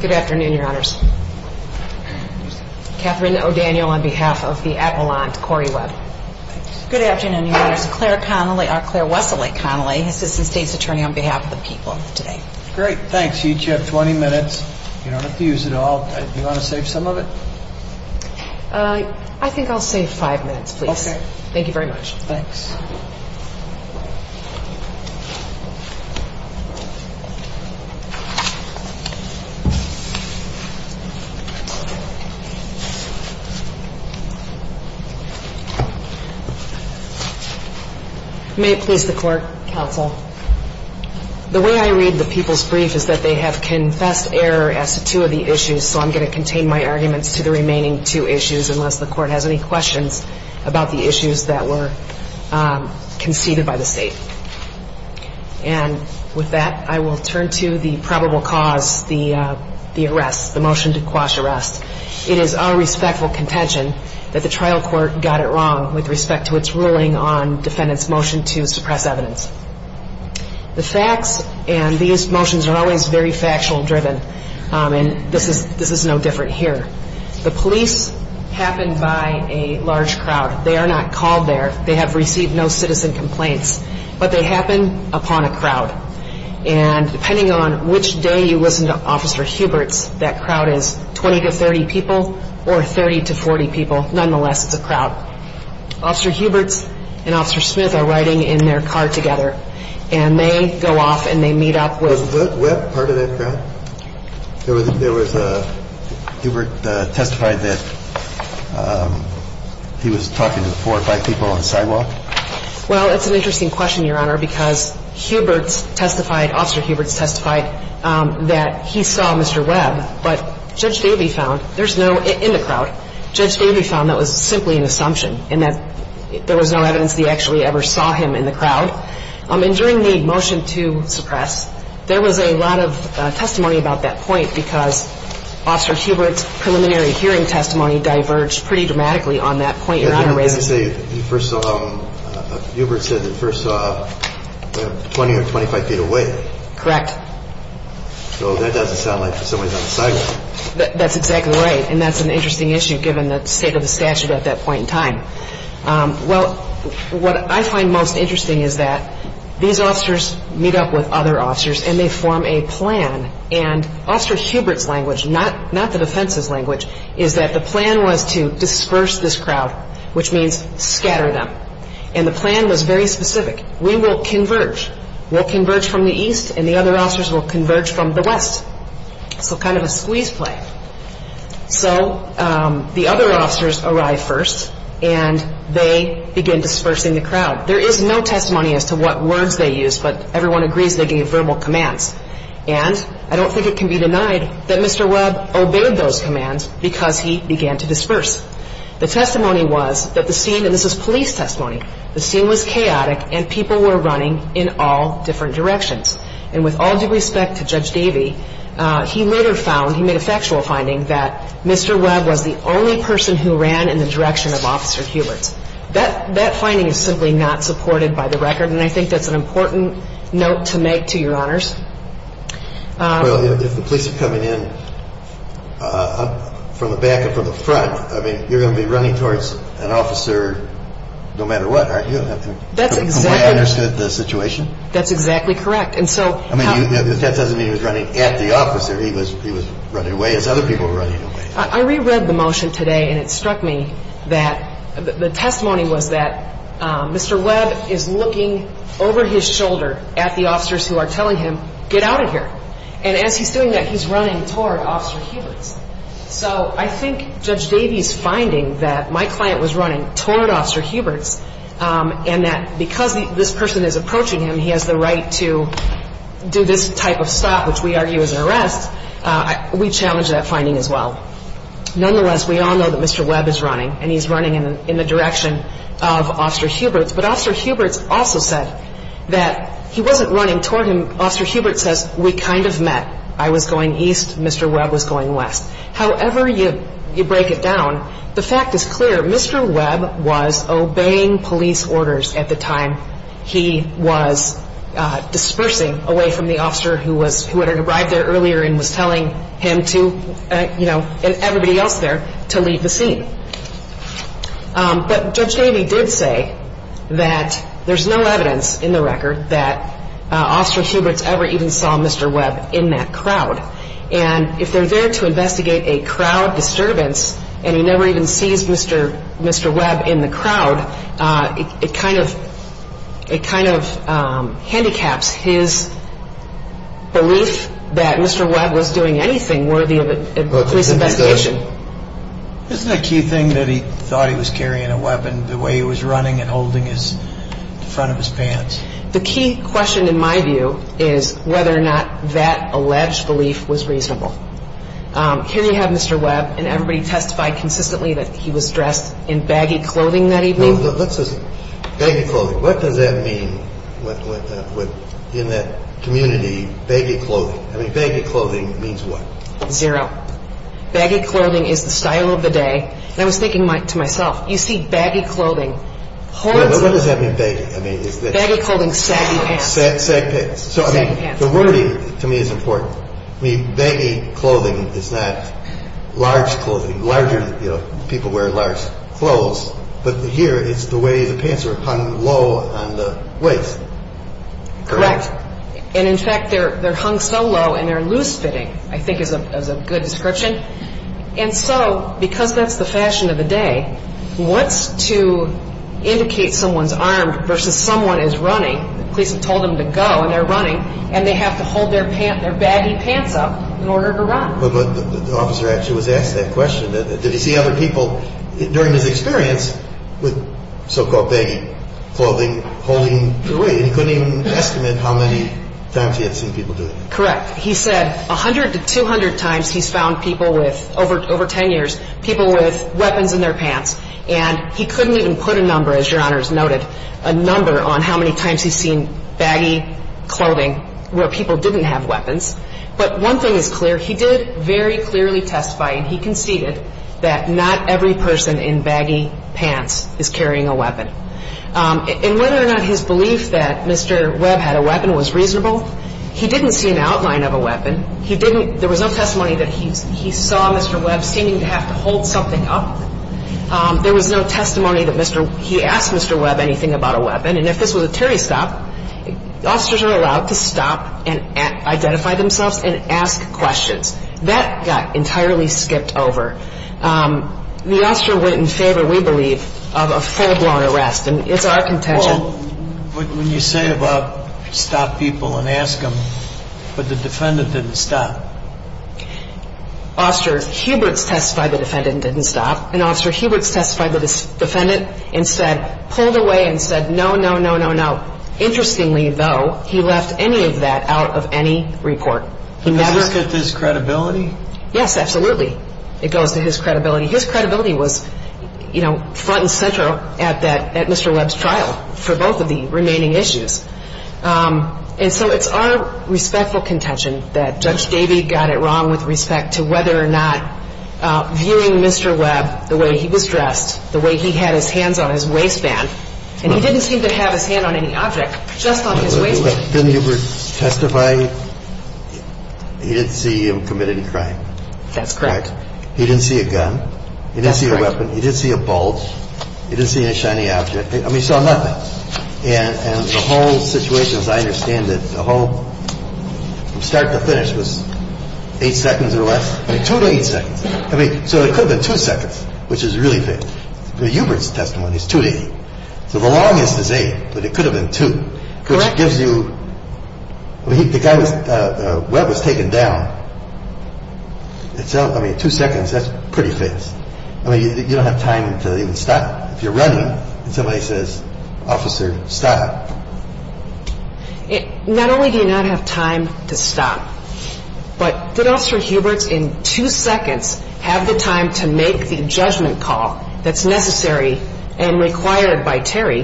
Good afternoon, Your Honors. Catherine O'Daniel on behalf of the Avalanche Corrie Webb. Good afternoon, Your Honors. Claire Connelly, or Claire Wessel-Connelly, Assistant State's Attorney, on behalf of the people of the day. The way I read the people's brief is that they have confessed error as to two of the issues, so I'm going to contain my arguments to the remaining two issues unless the Court has any questions about the issues that were conceded by the State. And with that, I will turn to the probable cause, the arrest, the motion to quash arrest. It is our respectful contention that the trial court got it wrong with respect to its ruling on defendant's motion to suppress evidence. The facts and these motions are always very factual-driven, and this is no different here. The police happen by a large crowd. They are not called there. They have received no citizen complaints. But they happen upon a crowd. And depending on which day you listen to Officer Huberts, that crowd is 20 to 30 people or 30 to 40 people. Nonetheless, it's a crowd. Officer Huberts and Officer Smith are riding in their car together, and they go off and they meet up with — Was Webb part of that crowd? There was a — Hubert testified that he was talking to four or five people on the sidewalk? Well, it's an interesting question, Your Honor, because Huberts testified — Officer Huberts testified that he saw Mr. Webb, but Judge Davey found — there's no — in the crowd. Judge Davey found that was simply an assumption and that there was no evidence that he actually ever saw him in the crowd. And during the motion to suppress, there was a lot of testimony about that point because Officer Huberts' preliminary hearing testimony diverged pretty dramatically on that point, Your Honor, raising — Didn't he say he first saw him — Huberts said that he first saw him 20 or 25 feet away? Correct. So that doesn't sound like somebody's on the sidewalk. That's exactly right, and that's an interesting issue given the state of the statute at that point in time. Well, what I find most interesting is that these officers meet up with other officers and they form a plan. And Officer Huberts' language, not the defense's language, is that the plan was to disperse this crowd, which means scatter them. And the plan was very specific. We will converge. We'll converge from the east, and the other officers will So the other officers arrive first, and they begin dispersing the crowd. There is no testimony as to what words they used, but everyone agrees they gave verbal commands. And I don't think it can be denied that Mr. Webb obeyed those commands because he began to disperse. The testimony was that the scene — and this is police testimony — the scene was chaotic and people were running in all different directions. And with all due respect to Judge Davey, he later found, he made a factual finding, that Mr. Webb was the only person who ran in the direction of Officer Huberts. That finding is simply not supported by the record, and I think that's an important note to make to Your Honors. Well, if the police are coming in from the back and from the front, I mean, you're going to be running towards an officer no matter what, aren't you? That's exactly — From where I understood the situation? That's exactly correct. And so — I mean, if that doesn't mean he was running at the officer, he was running away as other people were running away. I reread the motion today, and it struck me that the testimony was that Mr. Webb is looking over his shoulder at the officers who are telling him, get out of here. And as he's doing that, he's running toward Officer Huberts. So I think Judge Davey's finding that my client was running toward Officer Huberts, and that because this person is approaching him, he has the right to do this type of stop, which we argue is an arrest, we challenge that finding as well. Nonetheless, we all know that Mr. Webb is running, and he's running in the direction of Officer Huberts. But Officer Huberts also said that he wasn't running toward him. Officer Huberts says, we kind of met. I was going east, Mr. Webb was going west. However you break it down, the fact is clear. Mr. Webb was obeying police orders at the time. He was dispersing away from the officer who was, who had arrived there earlier and was telling him to, you know, and everybody else there, to leave the scene. But Judge Davey did say that there's no evidence in the record that Officer Huberts ever even saw Mr. Webb in that crowd. And if they're there to investigate a crowd disturbance, and he never even sees Mr. Webb in the crowd, it kind of, it kind of handicaps his belief that Mr. Webb was doing anything worthy of a police investigation. Isn't that a key thing that he thought he was carrying a weapon, the way he was running and holding his, the front of his pants? The key question in my view is whether or not that alleged belief was reasonable. Here we have Mr. Webb, and everybody testified consistently that he was dressed in baggy clothing that evening. Now, let's just, baggy clothing. What does that mean, in that community, baggy clothing? I mean, baggy clothing means what? Zero. Baggy clothing is the style of the day. And I was thinking to myself, you see baggy clothing, hold on. Well, what does that mean, baggy? I mean, is that... Sag, sag pants. Saggy pants. The wording, to me, is important. I mean, baggy clothing is not large clothing. Larger, you know, people wear large clothes. But here, it's the way the pants are hung low on the waist. Correct. And in fact, they're hung so low, and they're loose-fitting, I think is a good description. And so, because that's the fashion of the day, what's to indicate someone's armed versus someone is running, the police have told them to go, and they're running, and they have to hold their baggy pants up in order to run. But the officer actually was asked that question. Did he see other people during his experience with so-called baggy clothing holding him to a weight? And he couldn't even estimate how many times he had seen people do that. Correct. He said 100 to 200 times he's found people with, over 10 years, people with weapons in their pants. And he couldn't even put a number, as Your Honors noted, a number on how many times he's seen baggy clothing where people didn't have weapons. But one thing is clear. He did very clearly testify, and he conceded, that not every person in baggy pants is carrying a weapon. And whether or not his belief that Mr. Webb had a weapon was reasonable, he didn't see an outline of a weapon. He didn't, there was no testimony that he saw Mr. Webb seeming to have to hold something up. There was no testimony that he asked Mr. Webb anything about a weapon. And if this was a Terry stop, officers are allowed to stop and identify themselves and ask questions. That got entirely skipped over. The officer went in favor, we believe, of a full-blown arrest, and it's our contention. Well, when you say about stop people and ask them, but the defendant didn't stop. Officer Huberts testified the defendant didn't stop, and Officer Huberts testified the defendant instead pulled away and said, no, no, no, no, no. Interestingly, though, he left any of that out of any report. Does this get to his credibility? Yes, absolutely. It goes to his credibility. His credibility was, you know, front and center at that, at Mr. Webb's trial for both of the remaining issues. And so it's our respectful contention that Judge Davey got it wrong with respect to whether or not viewing Mr. Webb the way he was dressed, the way he had his hands on his waistband, and he didn't seem to have his hand on any object, just on his waistband. Didn't Hubert testify he didn't see him committing a crime? That's correct. He didn't see a gun? That's correct. He didn't see a weapon? He didn't see a bolt? He didn't see any shiny object? I mean, he saw nothing. And the whole situation, as I understand it, the whole, from start to finish, was eight seconds or less. I mean, two to eight seconds. I mean, so it could have been two seconds, which is really big. Hubert's testimony is two to eight. So the longest is eight, but it could have been two. Correct. Which gives you, I mean, the guy was, Webb was taken down. I mean, two seconds, that's pretty fast. I mean, you don't have time to even stop. If you're running and somebody says, officer, stop. Not only do you not have time to stop, but did Officer Hubert in two seconds have the time to make the judgment call that's necessary and required by Terry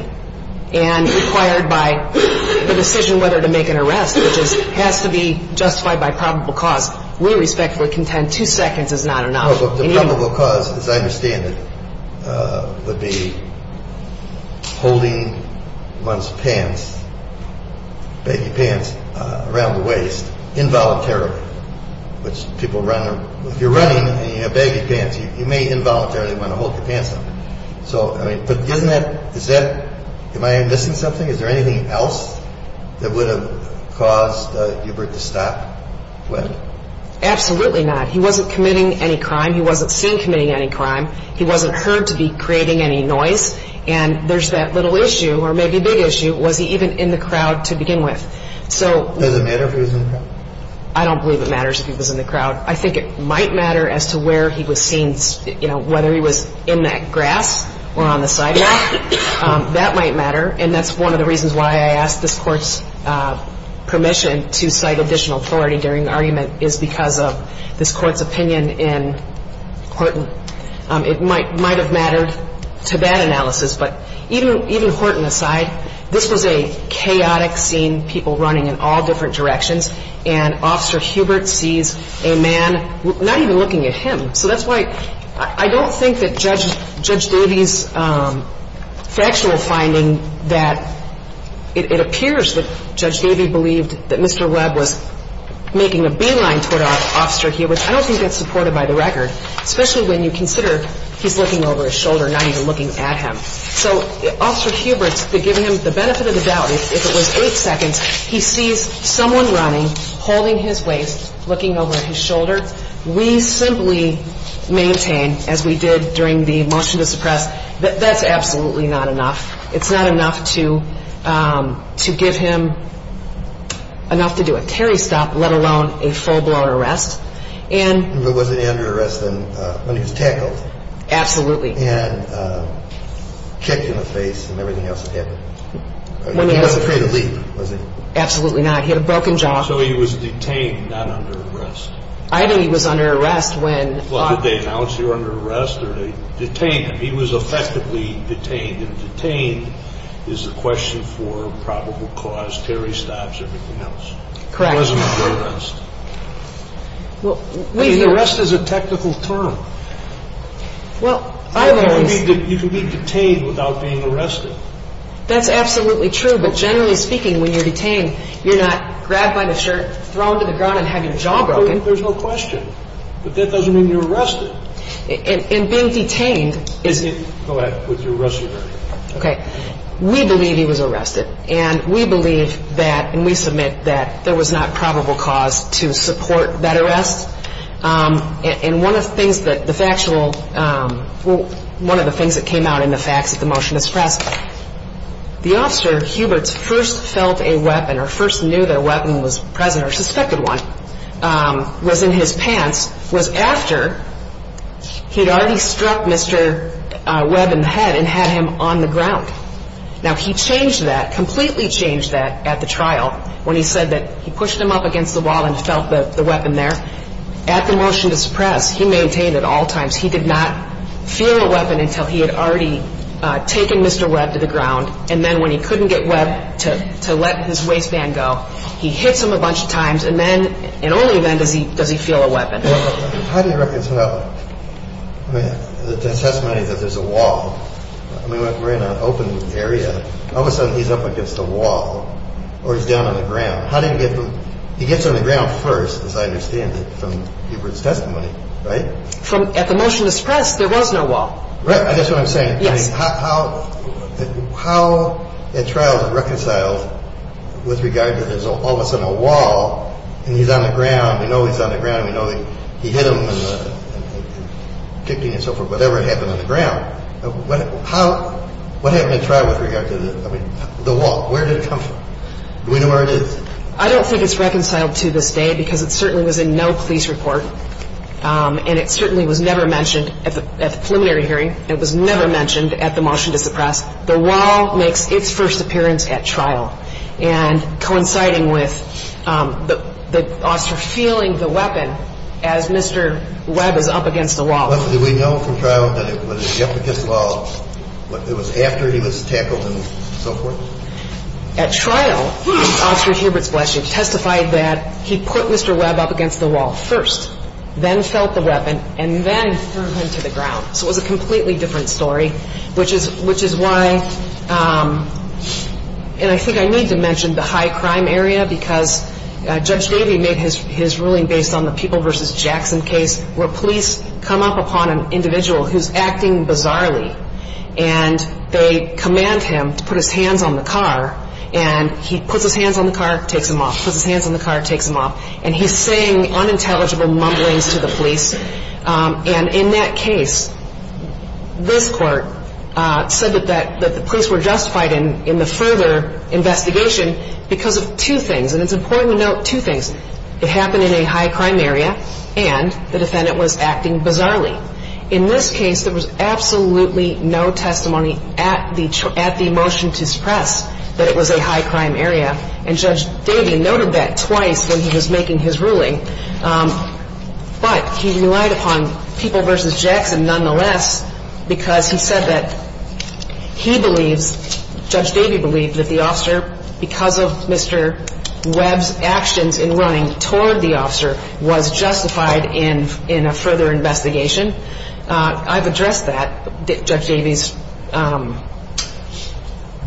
and required by the decision whether to make an arrest, which has to be justified by probable cause. We respectfully contend two seconds is not enough. The probable cause, as I understand it, would be holding one's pants, baggy pants, around the waist involuntarily, which people run, if you're running and you have baggy pants, you may involuntarily want to hold your pants up. So, I mean, but isn't that, is that, am I missing something? Is there anything else that would have caused Hubert to stop, Webb? Absolutely not. He wasn't committing any crime. He wasn't seen committing any crime. He wasn't heard to be creating any noise. And there's that little issue, or maybe big issue, was he even in the crowd to begin with? Does it matter if he was in the crowd? I don't believe it matters if he was in the crowd. I think it might matter as to where he was seen, you know, whether he was in that grass or on the sidewalk. That might matter. And that's one of the reasons why I asked this Court's permission to cite additional authority during the argument, is because of this Court's opinion in Horton. It might have mattered to that analysis. But even Horton aside, this was a chaotic scene, people running in all different directions, and Officer Hubert sees a man not even looking at him. So that's why I don't think that Judge Davey's factual finding that it appears that Judge Davey believed that Mr. Webb was making a beeline toward Officer Hubert, I don't think that's supported by the record, especially when you consider he's looking over his shoulder, not even looking at him. So Officer Hubert, to give him the benefit of the doubt, if it was eight seconds, he sees someone running, holding his waist, looking over his shoulder. We simply maintain, as we did during the motion to suppress, that that's absolutely not enough. It's not enough to give him enough to do a carry stop, let alone a full-blown arrest. And... If it wasn't an under arrest, then he was tackled. Absolutely. And kicked in the face and everything else that happened. He wasn't afraid to leap, was he? Absolutely not. He had a broken jaw. So he was detained, not under arrest. I think he was under arrest when... Well, did they announce he was under arrest or did they detain him? He was effectively detained. And detained is the question for probable cause, carry stops, everything else. Correct. He wasn't under arrest. Well, we... I mean, arrest is a technical term. Well, I've always... You can be detained without being arrested. That's absolutely true. But generally speaking, when you're detained, you're not grabbed by the shirt, thrown to the ground, and have your jaw broken. There's no question. But that doesn't mean you're arrested. And being detained is... Go ahead. With your arrest warrant. Okay. We believe he was arrested. And we believe that, and we submit that there was not probable cause to support that arrest. And one of the things that the factual... One of the things that came out in the facts of the motion to suppress, the officer, Hubert's, first felt a weapon or first knew that a weapon was present or suspected one was in his pants was after he'd already struck Mr. Webb in the head and had him on the ground. Now, he changed that, completely changed that at the trial when he said that he pushed him up against the wall and felt the weapon there. At the motion to suppress, he maintained at all times he did not feel a weapon until he had already taken Mr. Webb to the ground. And then when he couldn't get Webb to let his waistband go, he hits him a bunch of times. And then, in only event, does he feel a weapon. How do you reconcile... I mean, the testimony that there's a wall. I mean, we're in an open area. All of a sudden, he's up against a wall or he's down on the ground. How do you get... He gets on the ground first, as I understand it, from Hubert's testimony, right? At the motion to suppress, there was no wall. Right. That's what I'm saying. Yes. I mean, how... How, at trial, is it reconciled with regard to there's all of a sudden a wall and he's on the ground? We know he's on the ground. We know that he hit him and kicked him and so forth, whatever happened on the ground. What happened at trial with regard to the wall? Where did it come from? Do we know where it is? I don't think it's reconciled to this day because it certainly was in no police report. And it certainly was never mentioned at the preliminary hearing. It was never mentioned at the motion to suppress. The wall makes its first appearance at trial, and coinciding with the officer feeling the weapon as Mr. Webb is up against the wall. Did we know from trial that it was up against the wall after he was tackled and so forth? At trial, Officer Hubert's blessing testified that he put Mr. Webb up against the wall first, then felt the weapon, and then threw him to the ground. So it was a completely different story, which is why, and I think I need to mention the high crime area because Judge Davey made his ruling based on the People v. Jackson case where police come up upon an individual who's acting bizarrely, and they command him to put his hands on the car. And he puts his hands on the car, takes them off, puts his hands on the car, takes them off, and he's saying unintelligible mumblings to the police. And in that case, this court said that the police were justified in the further investigation because of two things, and it's important to note two things. It happened in a high crime area, and the defendant was acting bizarrely. In this case, there was absolutely no testimony at the motion to suppress that it was a high crime area, and Judge Davey noted that twice when he was making his ruling. But he relied upon People v. Jackson nonetheless because he said that he believes, Judge Davey believed that the officer, because of Mr. Webb's actions in running toward the officer, was justified in a further investigation. I've addressed that, Judge Davey's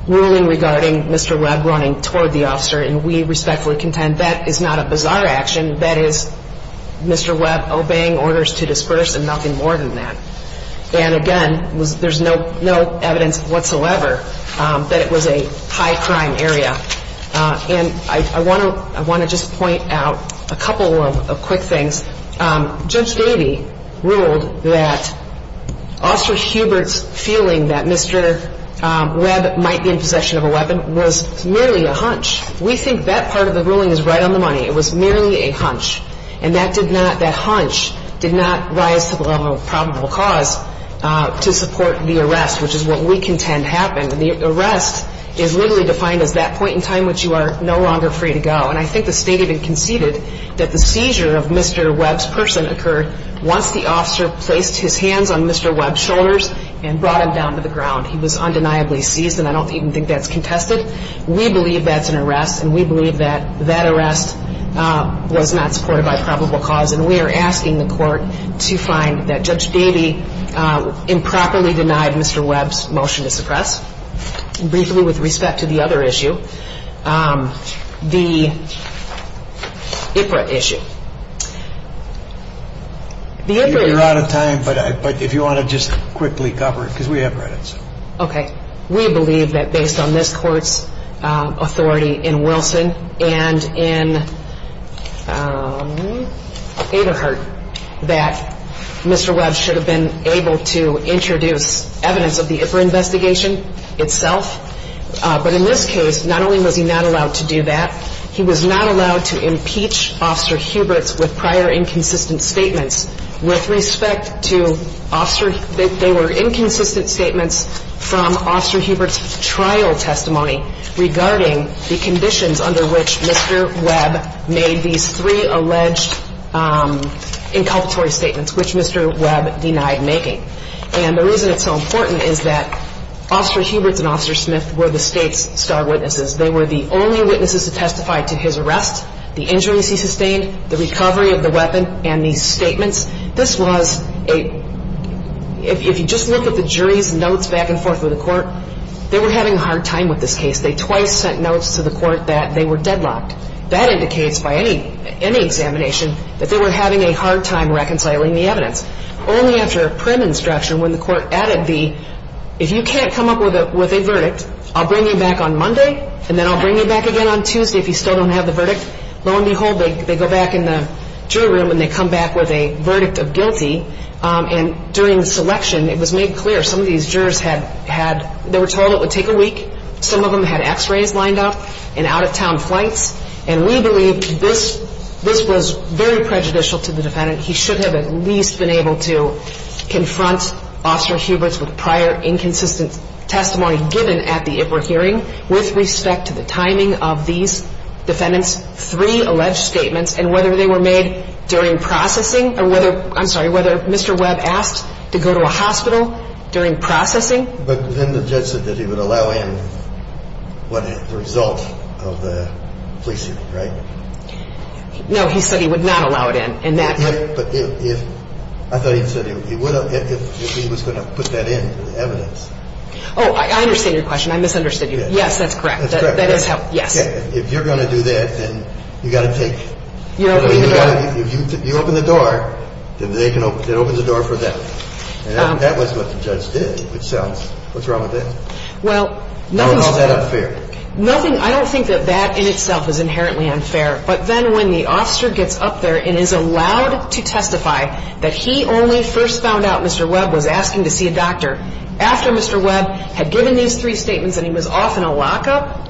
ruling regarding Mr. Webb running toward the officer, and we respectfully contend that is not a bizarre action. That is Mr. Webb obeying orders to disperse and nothing more than that. And again, there's no evidence whatsoever that it was a high crime area. And I want to just point out a couple of quick things. Judge Davey ruled that Officer Hubert's feeling that Mr. Webb might be in possession of a weapon was merely a hunch. We think that part of the ruling is right on the money. It was merely a hunch. And that did not, that hunch did not rise to the level of probable cause to support the arrest, which is what we contend happened. And the arrest is literally defined as that point in time which you are no longer free to go. And I think the State even conceded that the seizure of Mr. Webb's person occurred once the officer placed his hands on Mr. Webb's shoulders and brought him down to the ground. He was undeniably seized, and I don't even think that's contested. We believe that's an arrest, and we believe that that arrest was not supported by probable cause. And we are asking the court to find that Judge Davey improperly denied Mr. Webb's motion to suppress. Briefly, with respect to the other issue, the IPRA issue. You're out of time, but if you want to just quickly cover it, because we have credits. Okay. We believe that based on this court's authority in Wilson and in Aderhart, that Mr. Webb should have been able to introduce evidence of the IPRA investigation itself. But in this case, not only was he not allowed to do that, he was not allowed to impeach Officer Huberts with prior inconsistent statements. With respect to Officer – they were inconsistent statements from Officer Huberts' trial testimony regarding the conditions under which Mr. Webb made these three alleged inculpatory statements, which Mr. Webb denied making. And the reason it's so important is that Officer Huberts and Officer Smith were the State's star witnesses. They were the only witnesses to testify to his arrest, the injuries he sustained, the recovery of the weapon, and these statements. This was a – if you just look at the jury's notes back and forth with the court, they were having a hard time with this case. They twice sent notes to the court that they were deadlocked. That indicates by any examination that they were having a hard time reconciling the evidence. Only after a print instruction when the court added the, if you can't come up with a verdict, I'll bring you back on Monday, and then I'll bring you back again on Tuesday if you still don't have the verdict. Lo and behold, they go back in the jury room and they come back with a verdict of guilty. And during the selection, it was made clear some of these jurors had – they were told it would take a week. Some of them had x-rays lined up and out-of-town flights. And we believe this was very prejudicial to the defendant. He should have at least been able to confront Officer Huberts with prior inconsistent testimony given at the IPRA hearing with respect to the timing of these defendants' three alleged statements and whether they were made during processing or whether – I'm sorry – whether Mr. Webb asked to go to a hospital during processing. But then the judge said that he would allow in the result of the police shooting, right? No, he said he would not allow it in. But if – I thought he said he would if he was going to put that in, the evidence. Oh, I understand your question. I misunderstood you. Yes, that's correct. That's correct. That is how – yes. If you're going to do that, then you've got to take – You open the door. If you open the door, then they can – it opens the door for them. And that was what the judge did itself. What's wrong with that? Well, nothing's – How is that unfair? Nothing – I don't think that that in itself is inherently unfair. But then when the officer gets up there and is allowed to testify that he only first found out Mr. Webb was asking to see a doctor after Mr. Webb had given these three statements and he was off in a lockup,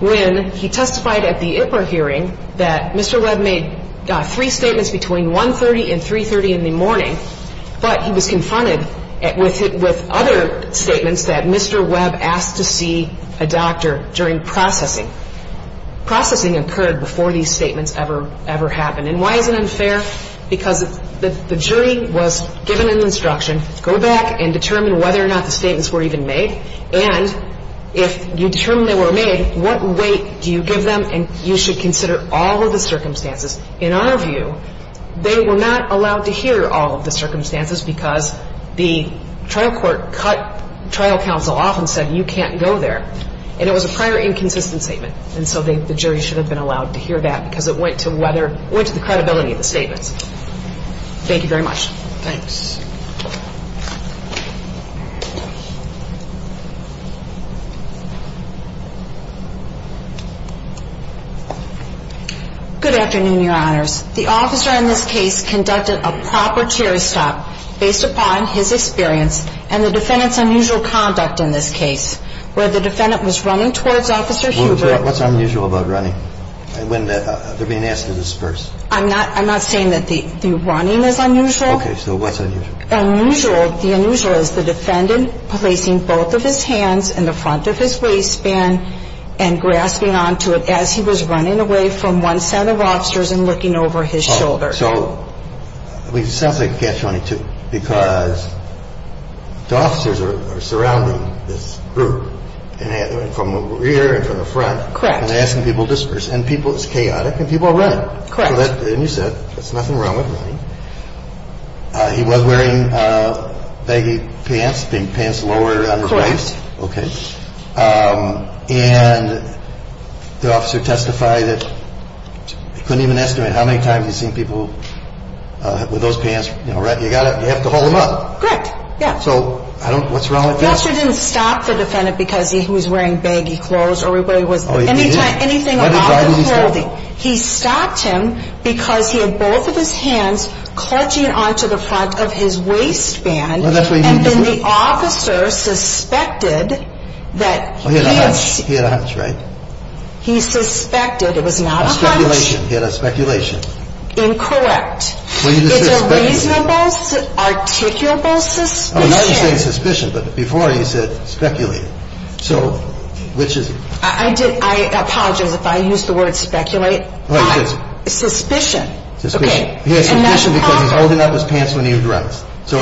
when he testified at the Ipler hearing that Mr. Webb made three statements between 1.30 and 3.30 in the morning, but he was confronted with other statements that Mr. Webb asked to see a doctor during processing. Processing occurred before these statements ever happened. And why is it unfair? Because the jury was given an instruction, go back and determine whether or not the statements were even made. And if you determine they were made, what weight do you give them? And you should consider all of the circumstances. In our view, they were not allowed to hear all of the circumstances because the trial court cut trial counsel off and said you can't go there. And it was a prior inconsistent statement. And so the jury should have been allowed to hear that because it went to whether – went to the credibility of the statements. Thank you very much. Thanks. Yes? Good afternoon, your honors. The officer in this case conducted a proper chair stop based upon his experience and the defendant's unusual conduct in this case where the defendant was running towards Officer Hubert. Well, what's unusual about running when they're being asked to dispersed? I'm not saying that the running is unusual. Okay, so what's unusual? Unusual, the unusual is the defendant placing both of his hands in the front of his waistband and grasping onto it as he was running away from one set of officers and looking over his shoulder. So, it sounds like a catch-22 because the officers are surrounding this group from the rear and from the front and asking people to disperse. Correct. And people, it's chaotic and people are running. Correct. And you said there's nothing wrong with running. He was wearing baggy pants, pants lower on his waist. Correct. Okay. And the officer testified that he couldn't even estimate how many times he's seen people with those pants. You have to hold them up. Correct, yeah. So, what's wrong with that? The officer didn't stop the defendant because he was wearing baggy clothes or whatever it was. Oh, he didn't? He stopped him because he had both of his hands clutching onto the front of his waistband. Well, that's what he did. And then the officer suspected that he had seen. He had a hunch, right? He suspected, it was not a hunch. A speculation, he had a speculation. Incorrect. It's a reasonable, articulable suspicion. Oh, now you're saying suspicion, but before you said speculated. So, which is it? I apologize if I use the word speculate, but suspicion. Okay. He had suspicion because he's holding up his pants when he runs. So,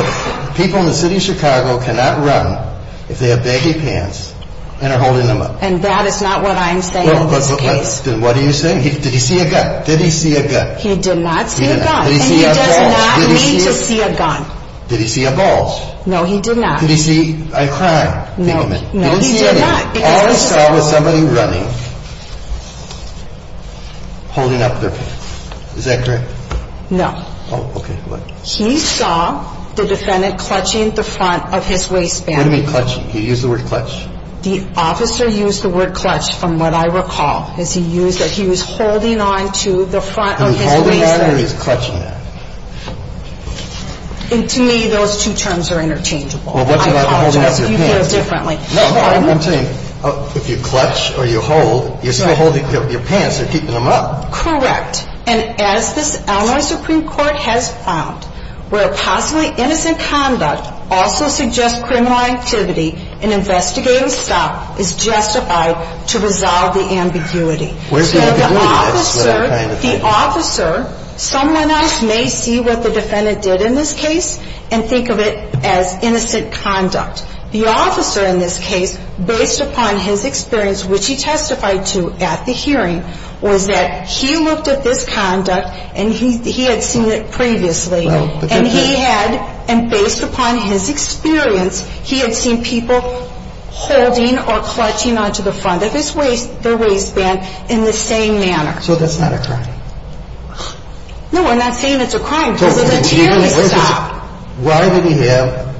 people in the city of Chicago cannot run if they have baggy pants and are holding them up. And that is not what I'm saying in this case. Then what are you saying? Did he see a gun? Did he see a gun? He did not see a gun. Did he see a bulge? And he does not need to see a gun. Did he see a bulge? No, he did not. Did he see a crime? No, he did not. All I saw was somebody running, holding up their pants. Is that correct? No. Oh, okay. He saw the defendant clutching the front of his waistband. What do you mean clutching? You used the word clutch. The officer used the word clutch, from what I recall, as he used it. He was holding on to the front of his waistband. He was holding on or he was clutching that? To me, those two terms are interchangeable. I apologize if you feel differently. No, no, I'm saying if you clutch or you hold, you're still holding your pants. You're keeping them up. Correct. And as the Illinois Supreme Court has found, where possibly innocent conduct also suggests criminal activity, an investigative stop is justified to resolve the ambiguity. Where's the ambiguity? The officer, someone else may see what the defendant did in this case and think of it as innocent conduct. The officer in this case, based upon his experience, which he testified to at the hearing, was that he looked at this conduct and he had seen it previously. And he had, and based upon his experience, he had seen people holding or clutching onto the front of his waistband in the same manner. So that's not a crime? No, we're not saying it's a crime because it's a hearing stop. Why did he have,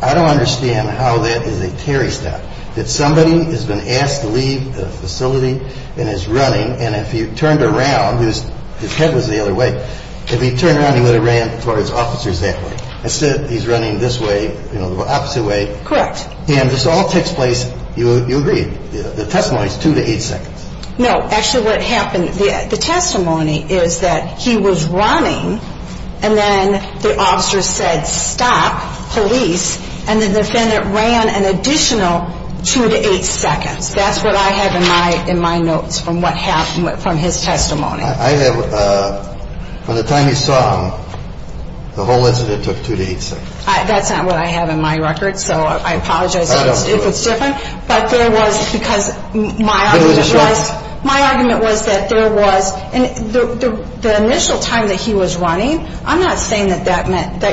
I don't understand how that is a carry stop, that somebody has been asked to leave the facility and is running and if he turned around, his head was the other way, if he turned around he would have ran towards officers that way. Instead he's running this way, you know, the opposite way. Correct. And this all takes place, you agreed, the testimony is two to eight seconds. No, actually what happened, the testimony is that he was running and then the officer said stop, police, and the defendant ran an additional two to eight seconds. That's what I have in my notes from what happened, from his testimony. I have, from the time you saw him, the whole incident took two to eight seconds. That's not what I have in my records, so I apologize if it's different. But there was, because my argument was that there was, and the initial time that he was running, I'm not saying that that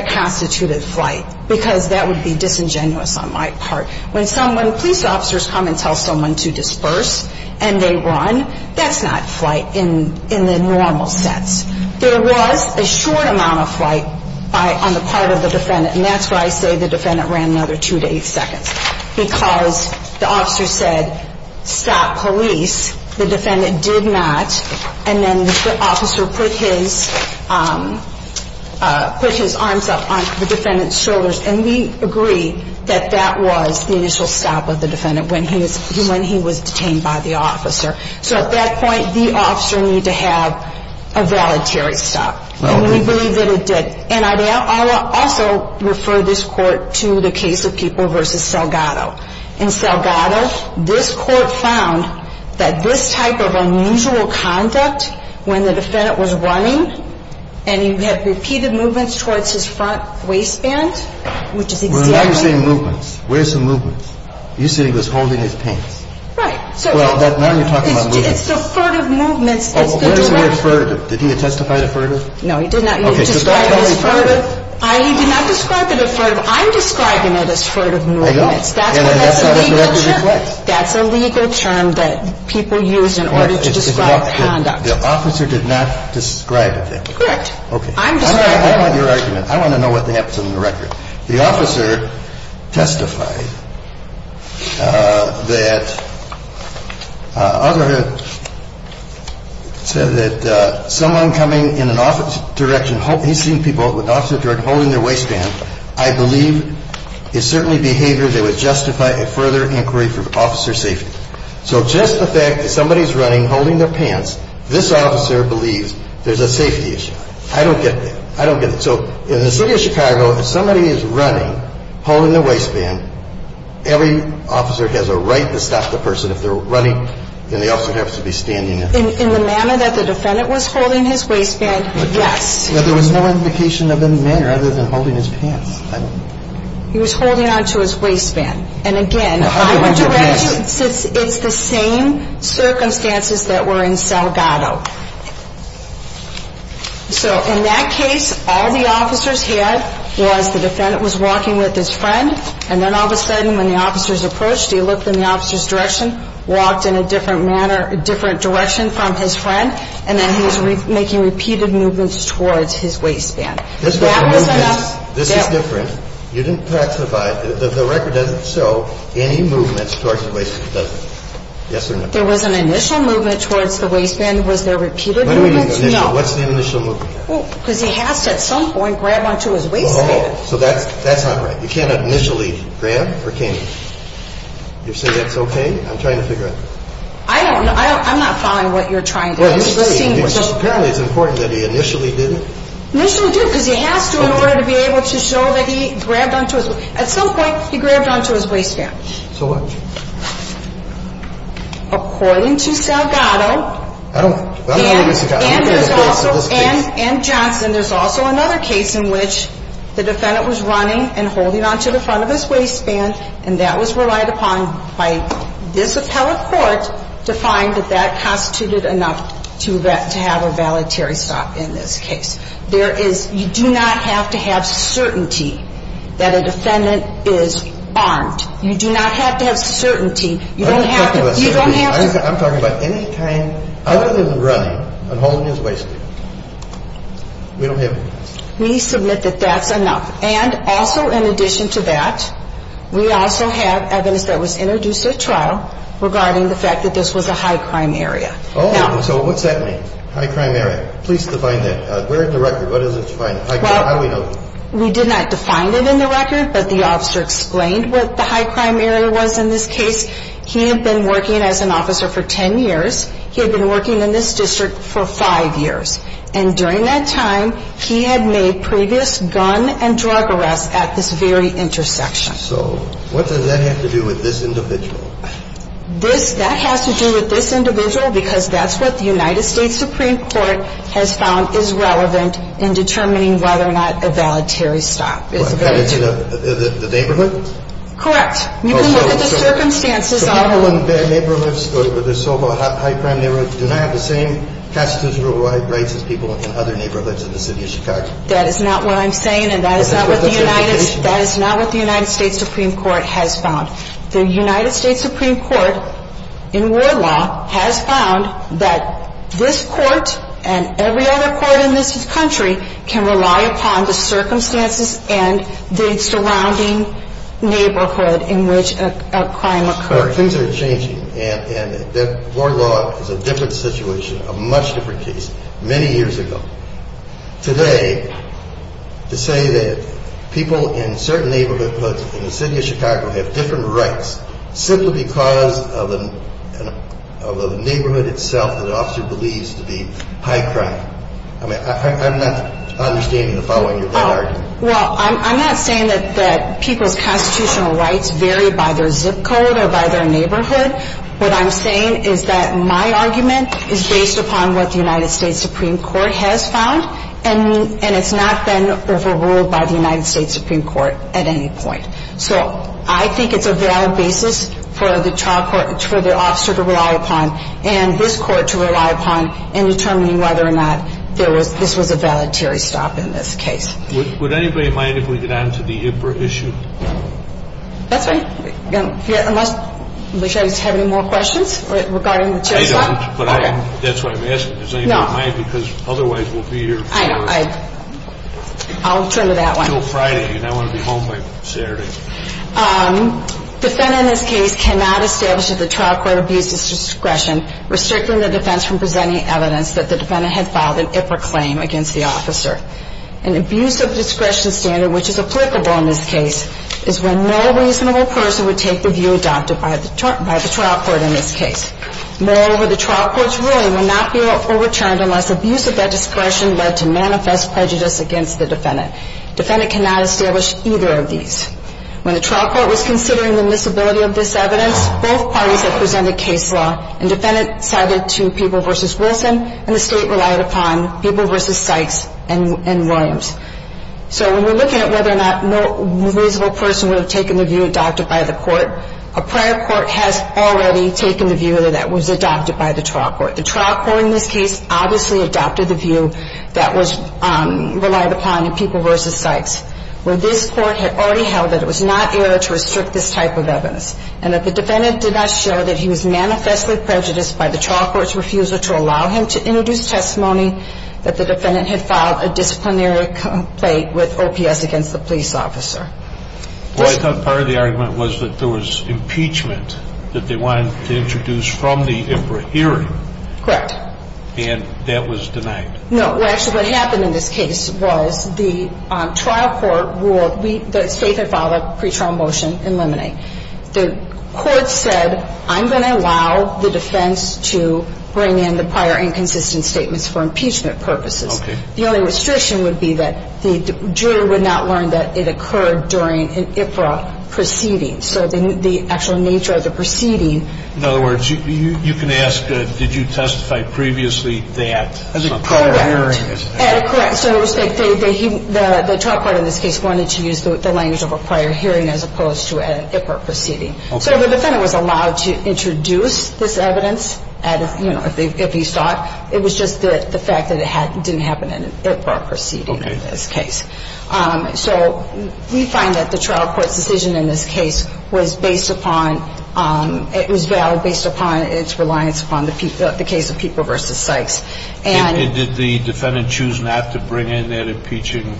constituted flight, because that would be disingenuous on my part. When police officers come and tell someone to disperse and they run, that's not flight in the normal sense. There was a short amount of flight on the part of the defendant, and that's why I say the defendant ran another two to eight seconds, because the officer said stop, police, the defendant did not, and then the officer put his arms up on the defendant's shoulders, and we agree that that was the initial stop of the defendant when he was detained by the officer. So at that point, the officer needed to have a voluntary stop, and we believe that it did. And I will also refer this Court to the case of People v. Salgado. In Salgado, this Court found that this type of unusual conduct when the defendant was running, and he had repeated movements towards his front waistband, which is exactly Well, now you're saying movements. Where's the movements? You said he was holding his pants. Right. Well, now you're talking about movements. It's the furtive movements. Did he testify to furtive? No, he did not. Okay, so that's how he testified. I did not describe it as furtive. I'm describing it as furtive movements. I know. And that's a legal term. That's a legal term that people use in order to describe conduct. The officer did not describe it that way. Correct. I'm describing it that way. I want your argument. I want to know what happens in the record. The officer testified that someone coming in an opposite direction, he's seen people with opposite direction holding their waistband, I believe is certainly behavior that would justify a further inquiry for officer safety. So just the fact that somebody's running, holding their pants, this officer believes there's a safety issue. I don't get that. I don't get it. So in the city of Chicago, if somebody is running, holding their waistband, every officer has a right to stop the person. If they're running, then the officer has to be standing. In the manner that the defendant was holding his waistband, yes. But there was no indication of any manner other than holding his pants. He was holding on to his waistband. And again, I would direct you, it's the same circumstances that were in Salgado. So in that case, all the officers had was the defendant was walking with his friend, and then all of a sudden when the officers approached, he looked in the officer's direction, walked in a different direction from his friend, and then he was making repeated movements towards his waistband. This is different. The record doesn't show any movements towards the waistband, does it? Yes or no? There was an initial movement towards the waistband. Was there repeated movements? No. What's the initial movement? Because he has to at some point grab on to his waistband. So that's not right. You can't initially grab or can you? You're saying that's okay? I'm trying to figure out. I'm not following what you're trying to do. Apparently it's important that he initially did it. Initially did it because he has to in order to be able to show that he grabbed on to his waistband. At some point, he grabbed on to his waistband. So what? According to Salgado and Johnson, there's also another case in which the defendant was running and holding on to the front of his waistband, and that was relied upon by this appellate court to find that that constituted enough to have a valetary stop in this case. You do not have to have certainty that a defendant is armed. You do not have to have certainty. I'm not talking about certainty. You don't have to. I'm talking about any kind other than running and holding his waistband. We don't have evidence. We submit that that's enough. And also in addition to that, we also have evidence that was introduced at trial regarding the fact that this was a high-crime area. Oh, so what's that mean, high-crime area? Please define that. Where in the record? What does it define? How do we know that? We did not define it in the record, but the officer explained what the high-crime area was in this case. He had been working as an officer for 10 years. He had been working in this district for 5 years. And during that time, he had made previous gun and drug arrests at this very intersection. So what does that have to do with this individual? That has to do with this individual because that's what the United States Supreme Court has found is relevant in determining whether or not a voluntary stop is valid. The neighborhood? Correct. You can look at the circumstances. So people in neighborhoods where there's so-called high-crime neighborhoods do not have the same constitutional rights as people in other neighborhoods in the city of Chicago? That is not what I'm saying, and that is not what the United States Supreme Court has found. The United States Supreme Court, in world law, has found that this court and every other court in this country can rely upon the circumstances and the surrounding neighborhood in which a crime occurs. Things are changing, and world law is a different situation, a much different case. Many years ago. Today, to say that people in certain neighborhoods in the city of Chicago have different rights simply because of the neighborhood itself that an officer believes to be high-crime. I'm not understanding the following of that argument. Well, I'm not saying that people's constitutional rights vary by their zip code or by their neighborhood. What I'm saying is that my argument is based upon what the United States Supreme Court has found, and it's not been overruled by the United States Supreme Court at any point. So I think it's a valid basis for the trial court, for the officer to rely upon, and this court to rely upon in determining whether or not this was a voluntary stop in this case. Would anybody mind if we get on to the IPRA issue? That's all right. Unless you guys have any more questions regarding the chair stop? I don't, but that's why I'm asking. Does anybody mind? No. Because otherwise we'll be here until Friday. And I want to be home by Saturday. Defendant in this case cannot establish that the trial court abused its discretion, restricting the defense from presenting evidence that the defendant had filed an IPRA claim against the officer. An abuse of discretion standard, which is applicable in this case, is when no reasonable person would take the view adopted by the trial court in this case. Moreover, the trial court's ruling will not be overturned unless abuse of that discretion led to manifest prejudice against the defendant. Defendant cannot establish either of these. When the trial court was considering the miscibility of this evidence, both parties had presented case law, and defendant sided to People v. Wilson, and the State relied upon People v. Sykes and Williams. So when we're looking at whether or not no reasonable person would have taken the view adopted by the court, a prior court has already taken the view that that was adopted by the trial court. But the trial court in this case obviously adopted the view that was relied upon in People v. Sykes, where this court had already held that it was not error to restrict this type of evidence, and that the defendant did not show that he was manifestly prejudiced by the trial court's refusal to allow him to introduce testimony that the defendant had filed a disciplinary complaint with OPS against the police officer. Well, I thought part of the argument was that there was impeachment that they wanted to introduce from the Imperial hearing. Correct. And that was denied. No. Well, actually, what happened in this case was the trial court ruled we – the State had filed a pretrial motion in limine. The court said, I'm going to allow the defense to bring in the prior inconsistent statements for impeachment purposes. Okay. The only restriction would be that the juror would not learn that it occurred during an IPRA proceeding. So the actual nature of the proceeding – In other words, you can ask, did you testify previously that – As a prior hearing. Correct. Correct. So the trial court in this case wanted to use the language of a prior hearing as opposed to an IPRA proceeding. Okay. So the defendant was allowed to introduce this evidence, you know, if he sought. It was just the fact that it didn't happen in an IPRA proceeding in this case. Okay. So we find that the trial court's decision in this case was based upon – it was valid based upon its reliance upon the case of Pieper v. Sykes. And – And did the defendant choose not to bring in that impeaching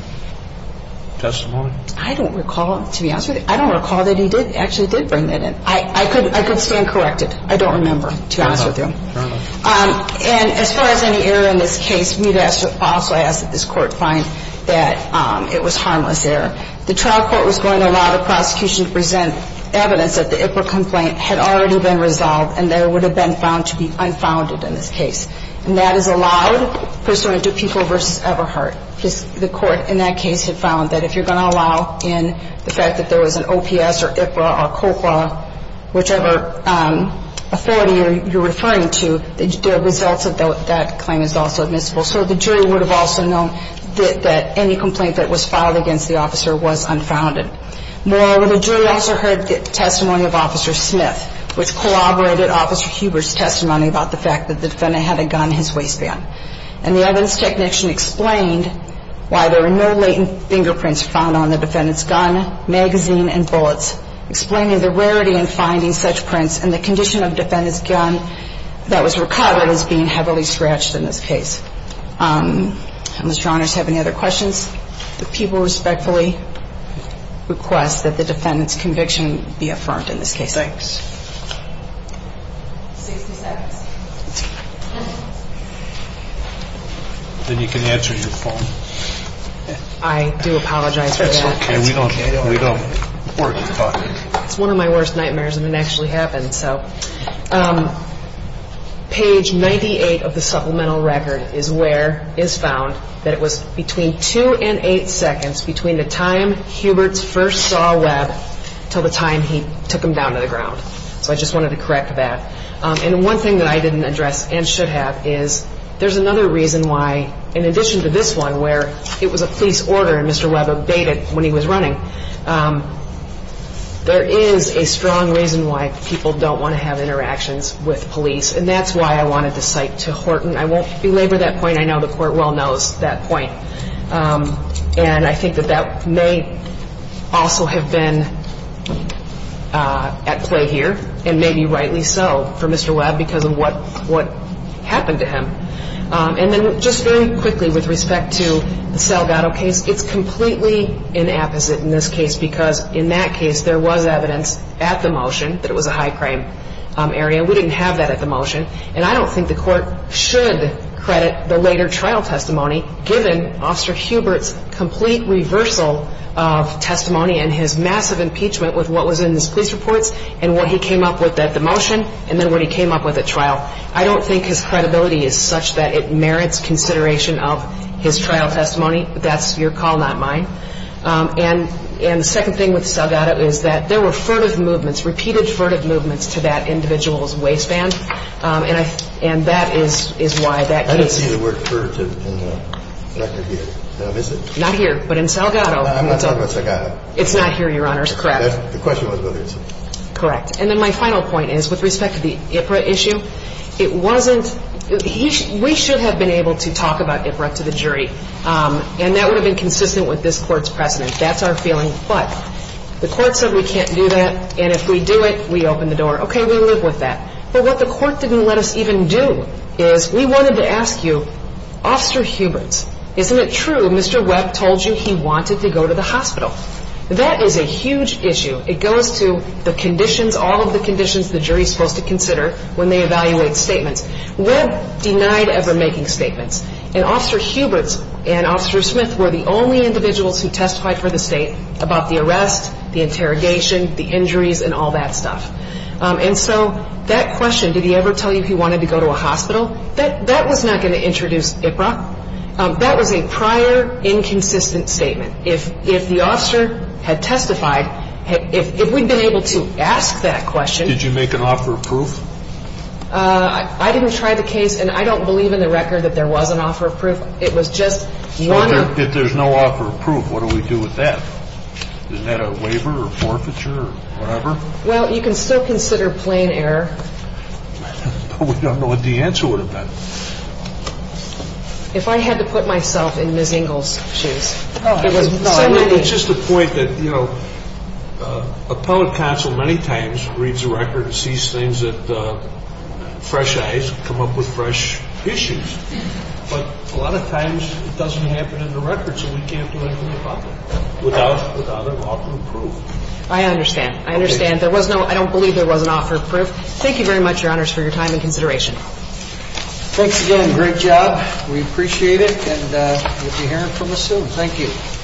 testimony? I don't recall, to be honest with you. I don't recall that he actually did bring that in. I could stand corrected. I don't remember, to be honest with you. Fair enough. And as far as any error in this case, we'd also ask that this Court find that it was harmless error. The trial court was going to allow the prosecution to present evidence that the IPRA complaint had already been resolved and that it would have been found to be unfounded in this case. And that is allowed pursuant to Pieper v. Everhart. Because the Court in that case had found that if you're going to allow in the fact that there was an OPS or IPRA or COPA, whichever authority you're referring to, the results of that claim is also admissible. So the jury would have also known that any complaint that was filed against the officer was unfounded. Moreover, the jury also heard the testimony of Officer Smith, which collaborated Officer Huber's testimony about the fact that the defendant had a gun in his waistband. And the evidence technician explained why there were no latent fingerprints found on the defendant's gun, magazine and bullets, explaining the rarity in finding such prints and the condition of the defendant's gun that was recovered as being heavily scratched in this case. And, Mr. Honors, have any other questions? The people respectfully request that the defendant's conviction be affirmed in this case. Thanks. 60 seconds. Then you can answer your phone. I do apologize for that. It's one of my worst nightmares, and it actually happened. So page 98 of the supplemental record is where it's found that it was between 2 and 8 seconds between the time Huber's first saw Webb until the time he took him down to the ground. So I just wanted to correct that. And one thing that I didn't address and should have is there's another reason why, in addition to this one, where it was a police order and Mr. Webb obeyed it when he was running, there is a strong reason why people don't want to have interactions with police. And that's why I wanted the cite to Horton. I won't belabor that point. I know the court well knows that point. And I think that that may also have been at play here and maybe rightly so for Mr. Webb because of what happened to him. And then just very quickly with respect to the Salgado case, it's completely inapposite in this case because in that case there was evidence at the motion that it was a high crime area. We didn't have that at the motion. And I don't think the court should credit the later trial testimony given Officer Hubert's complete reversal of testimony and his massive impeachment with what was in his police reports and what he came up with at the motion and then what he came up with at trial. I don't think his credibility is such that it merits consideration of his trial testimony. That's your call, not mine. And the second thing with Salgado is that there were furtive movements, repeated furtive movements to that individual's waistband. And that is why that case. I didn't see the word furtive in the record here. Is it? Not here, but in Salgado. I'm not talking about Salgado. It's not here, Your Honors. Correct. The question was whether it's here. Correct. And then my final point is with respect to the IPRA issue, it wasn't we should have been able to talk about IPRA to the jury, and that would have been consistent with this court's precedent. That's our feeling. But the court said we can't do that, and if we do it, we open the door. Okay, we live with that. But what the court didn't let us even do is we wanted to ask you, Officer Hubert, isn't it true Mr. Webb told you he wanted to go to the hospital? That is a huge issue. It goes to the conditions, all of the conditions the jury is supposed to consider when they evaluate statements. Webb denied ever making statements, and Officer Hubert and Officer Smith were the only individuals who testified for the state about the arrest, the interrogation, the injuries, and all that stuff. And so that question, did he ever tell you he wanted to go to a hospital, that was not going to introduce IPRA. That was a prior inconsistent statement. If the officer had testified, if we'd been able to ask that question. Did you make an offer of proof? I didn't try the case, and I don't believe in the record that there was an offer of proof. It was just one. If there's no offer of proof, what do we do with that? Is that a waiver or forfeiture or whatever? Well, you can still consider plain error. I don't know what the answer would have been. If I had to put myself in Ms. Engel's shoes. No, it's just a point that, you know, appellate counsel many times reads the record and sees things with fresh eyes, come up with fresh issues. But a lot of times it doesn't happen in the record, so we can't do anything about it. Without an offer of proof. I understand. I understand. There was no, I don't believe there was an offer of proof. Thank you very much, Your Honors, for your time and consideration. Thanks again. Great job. We appreciate it, and we'll be hearing from us soon. Thank you.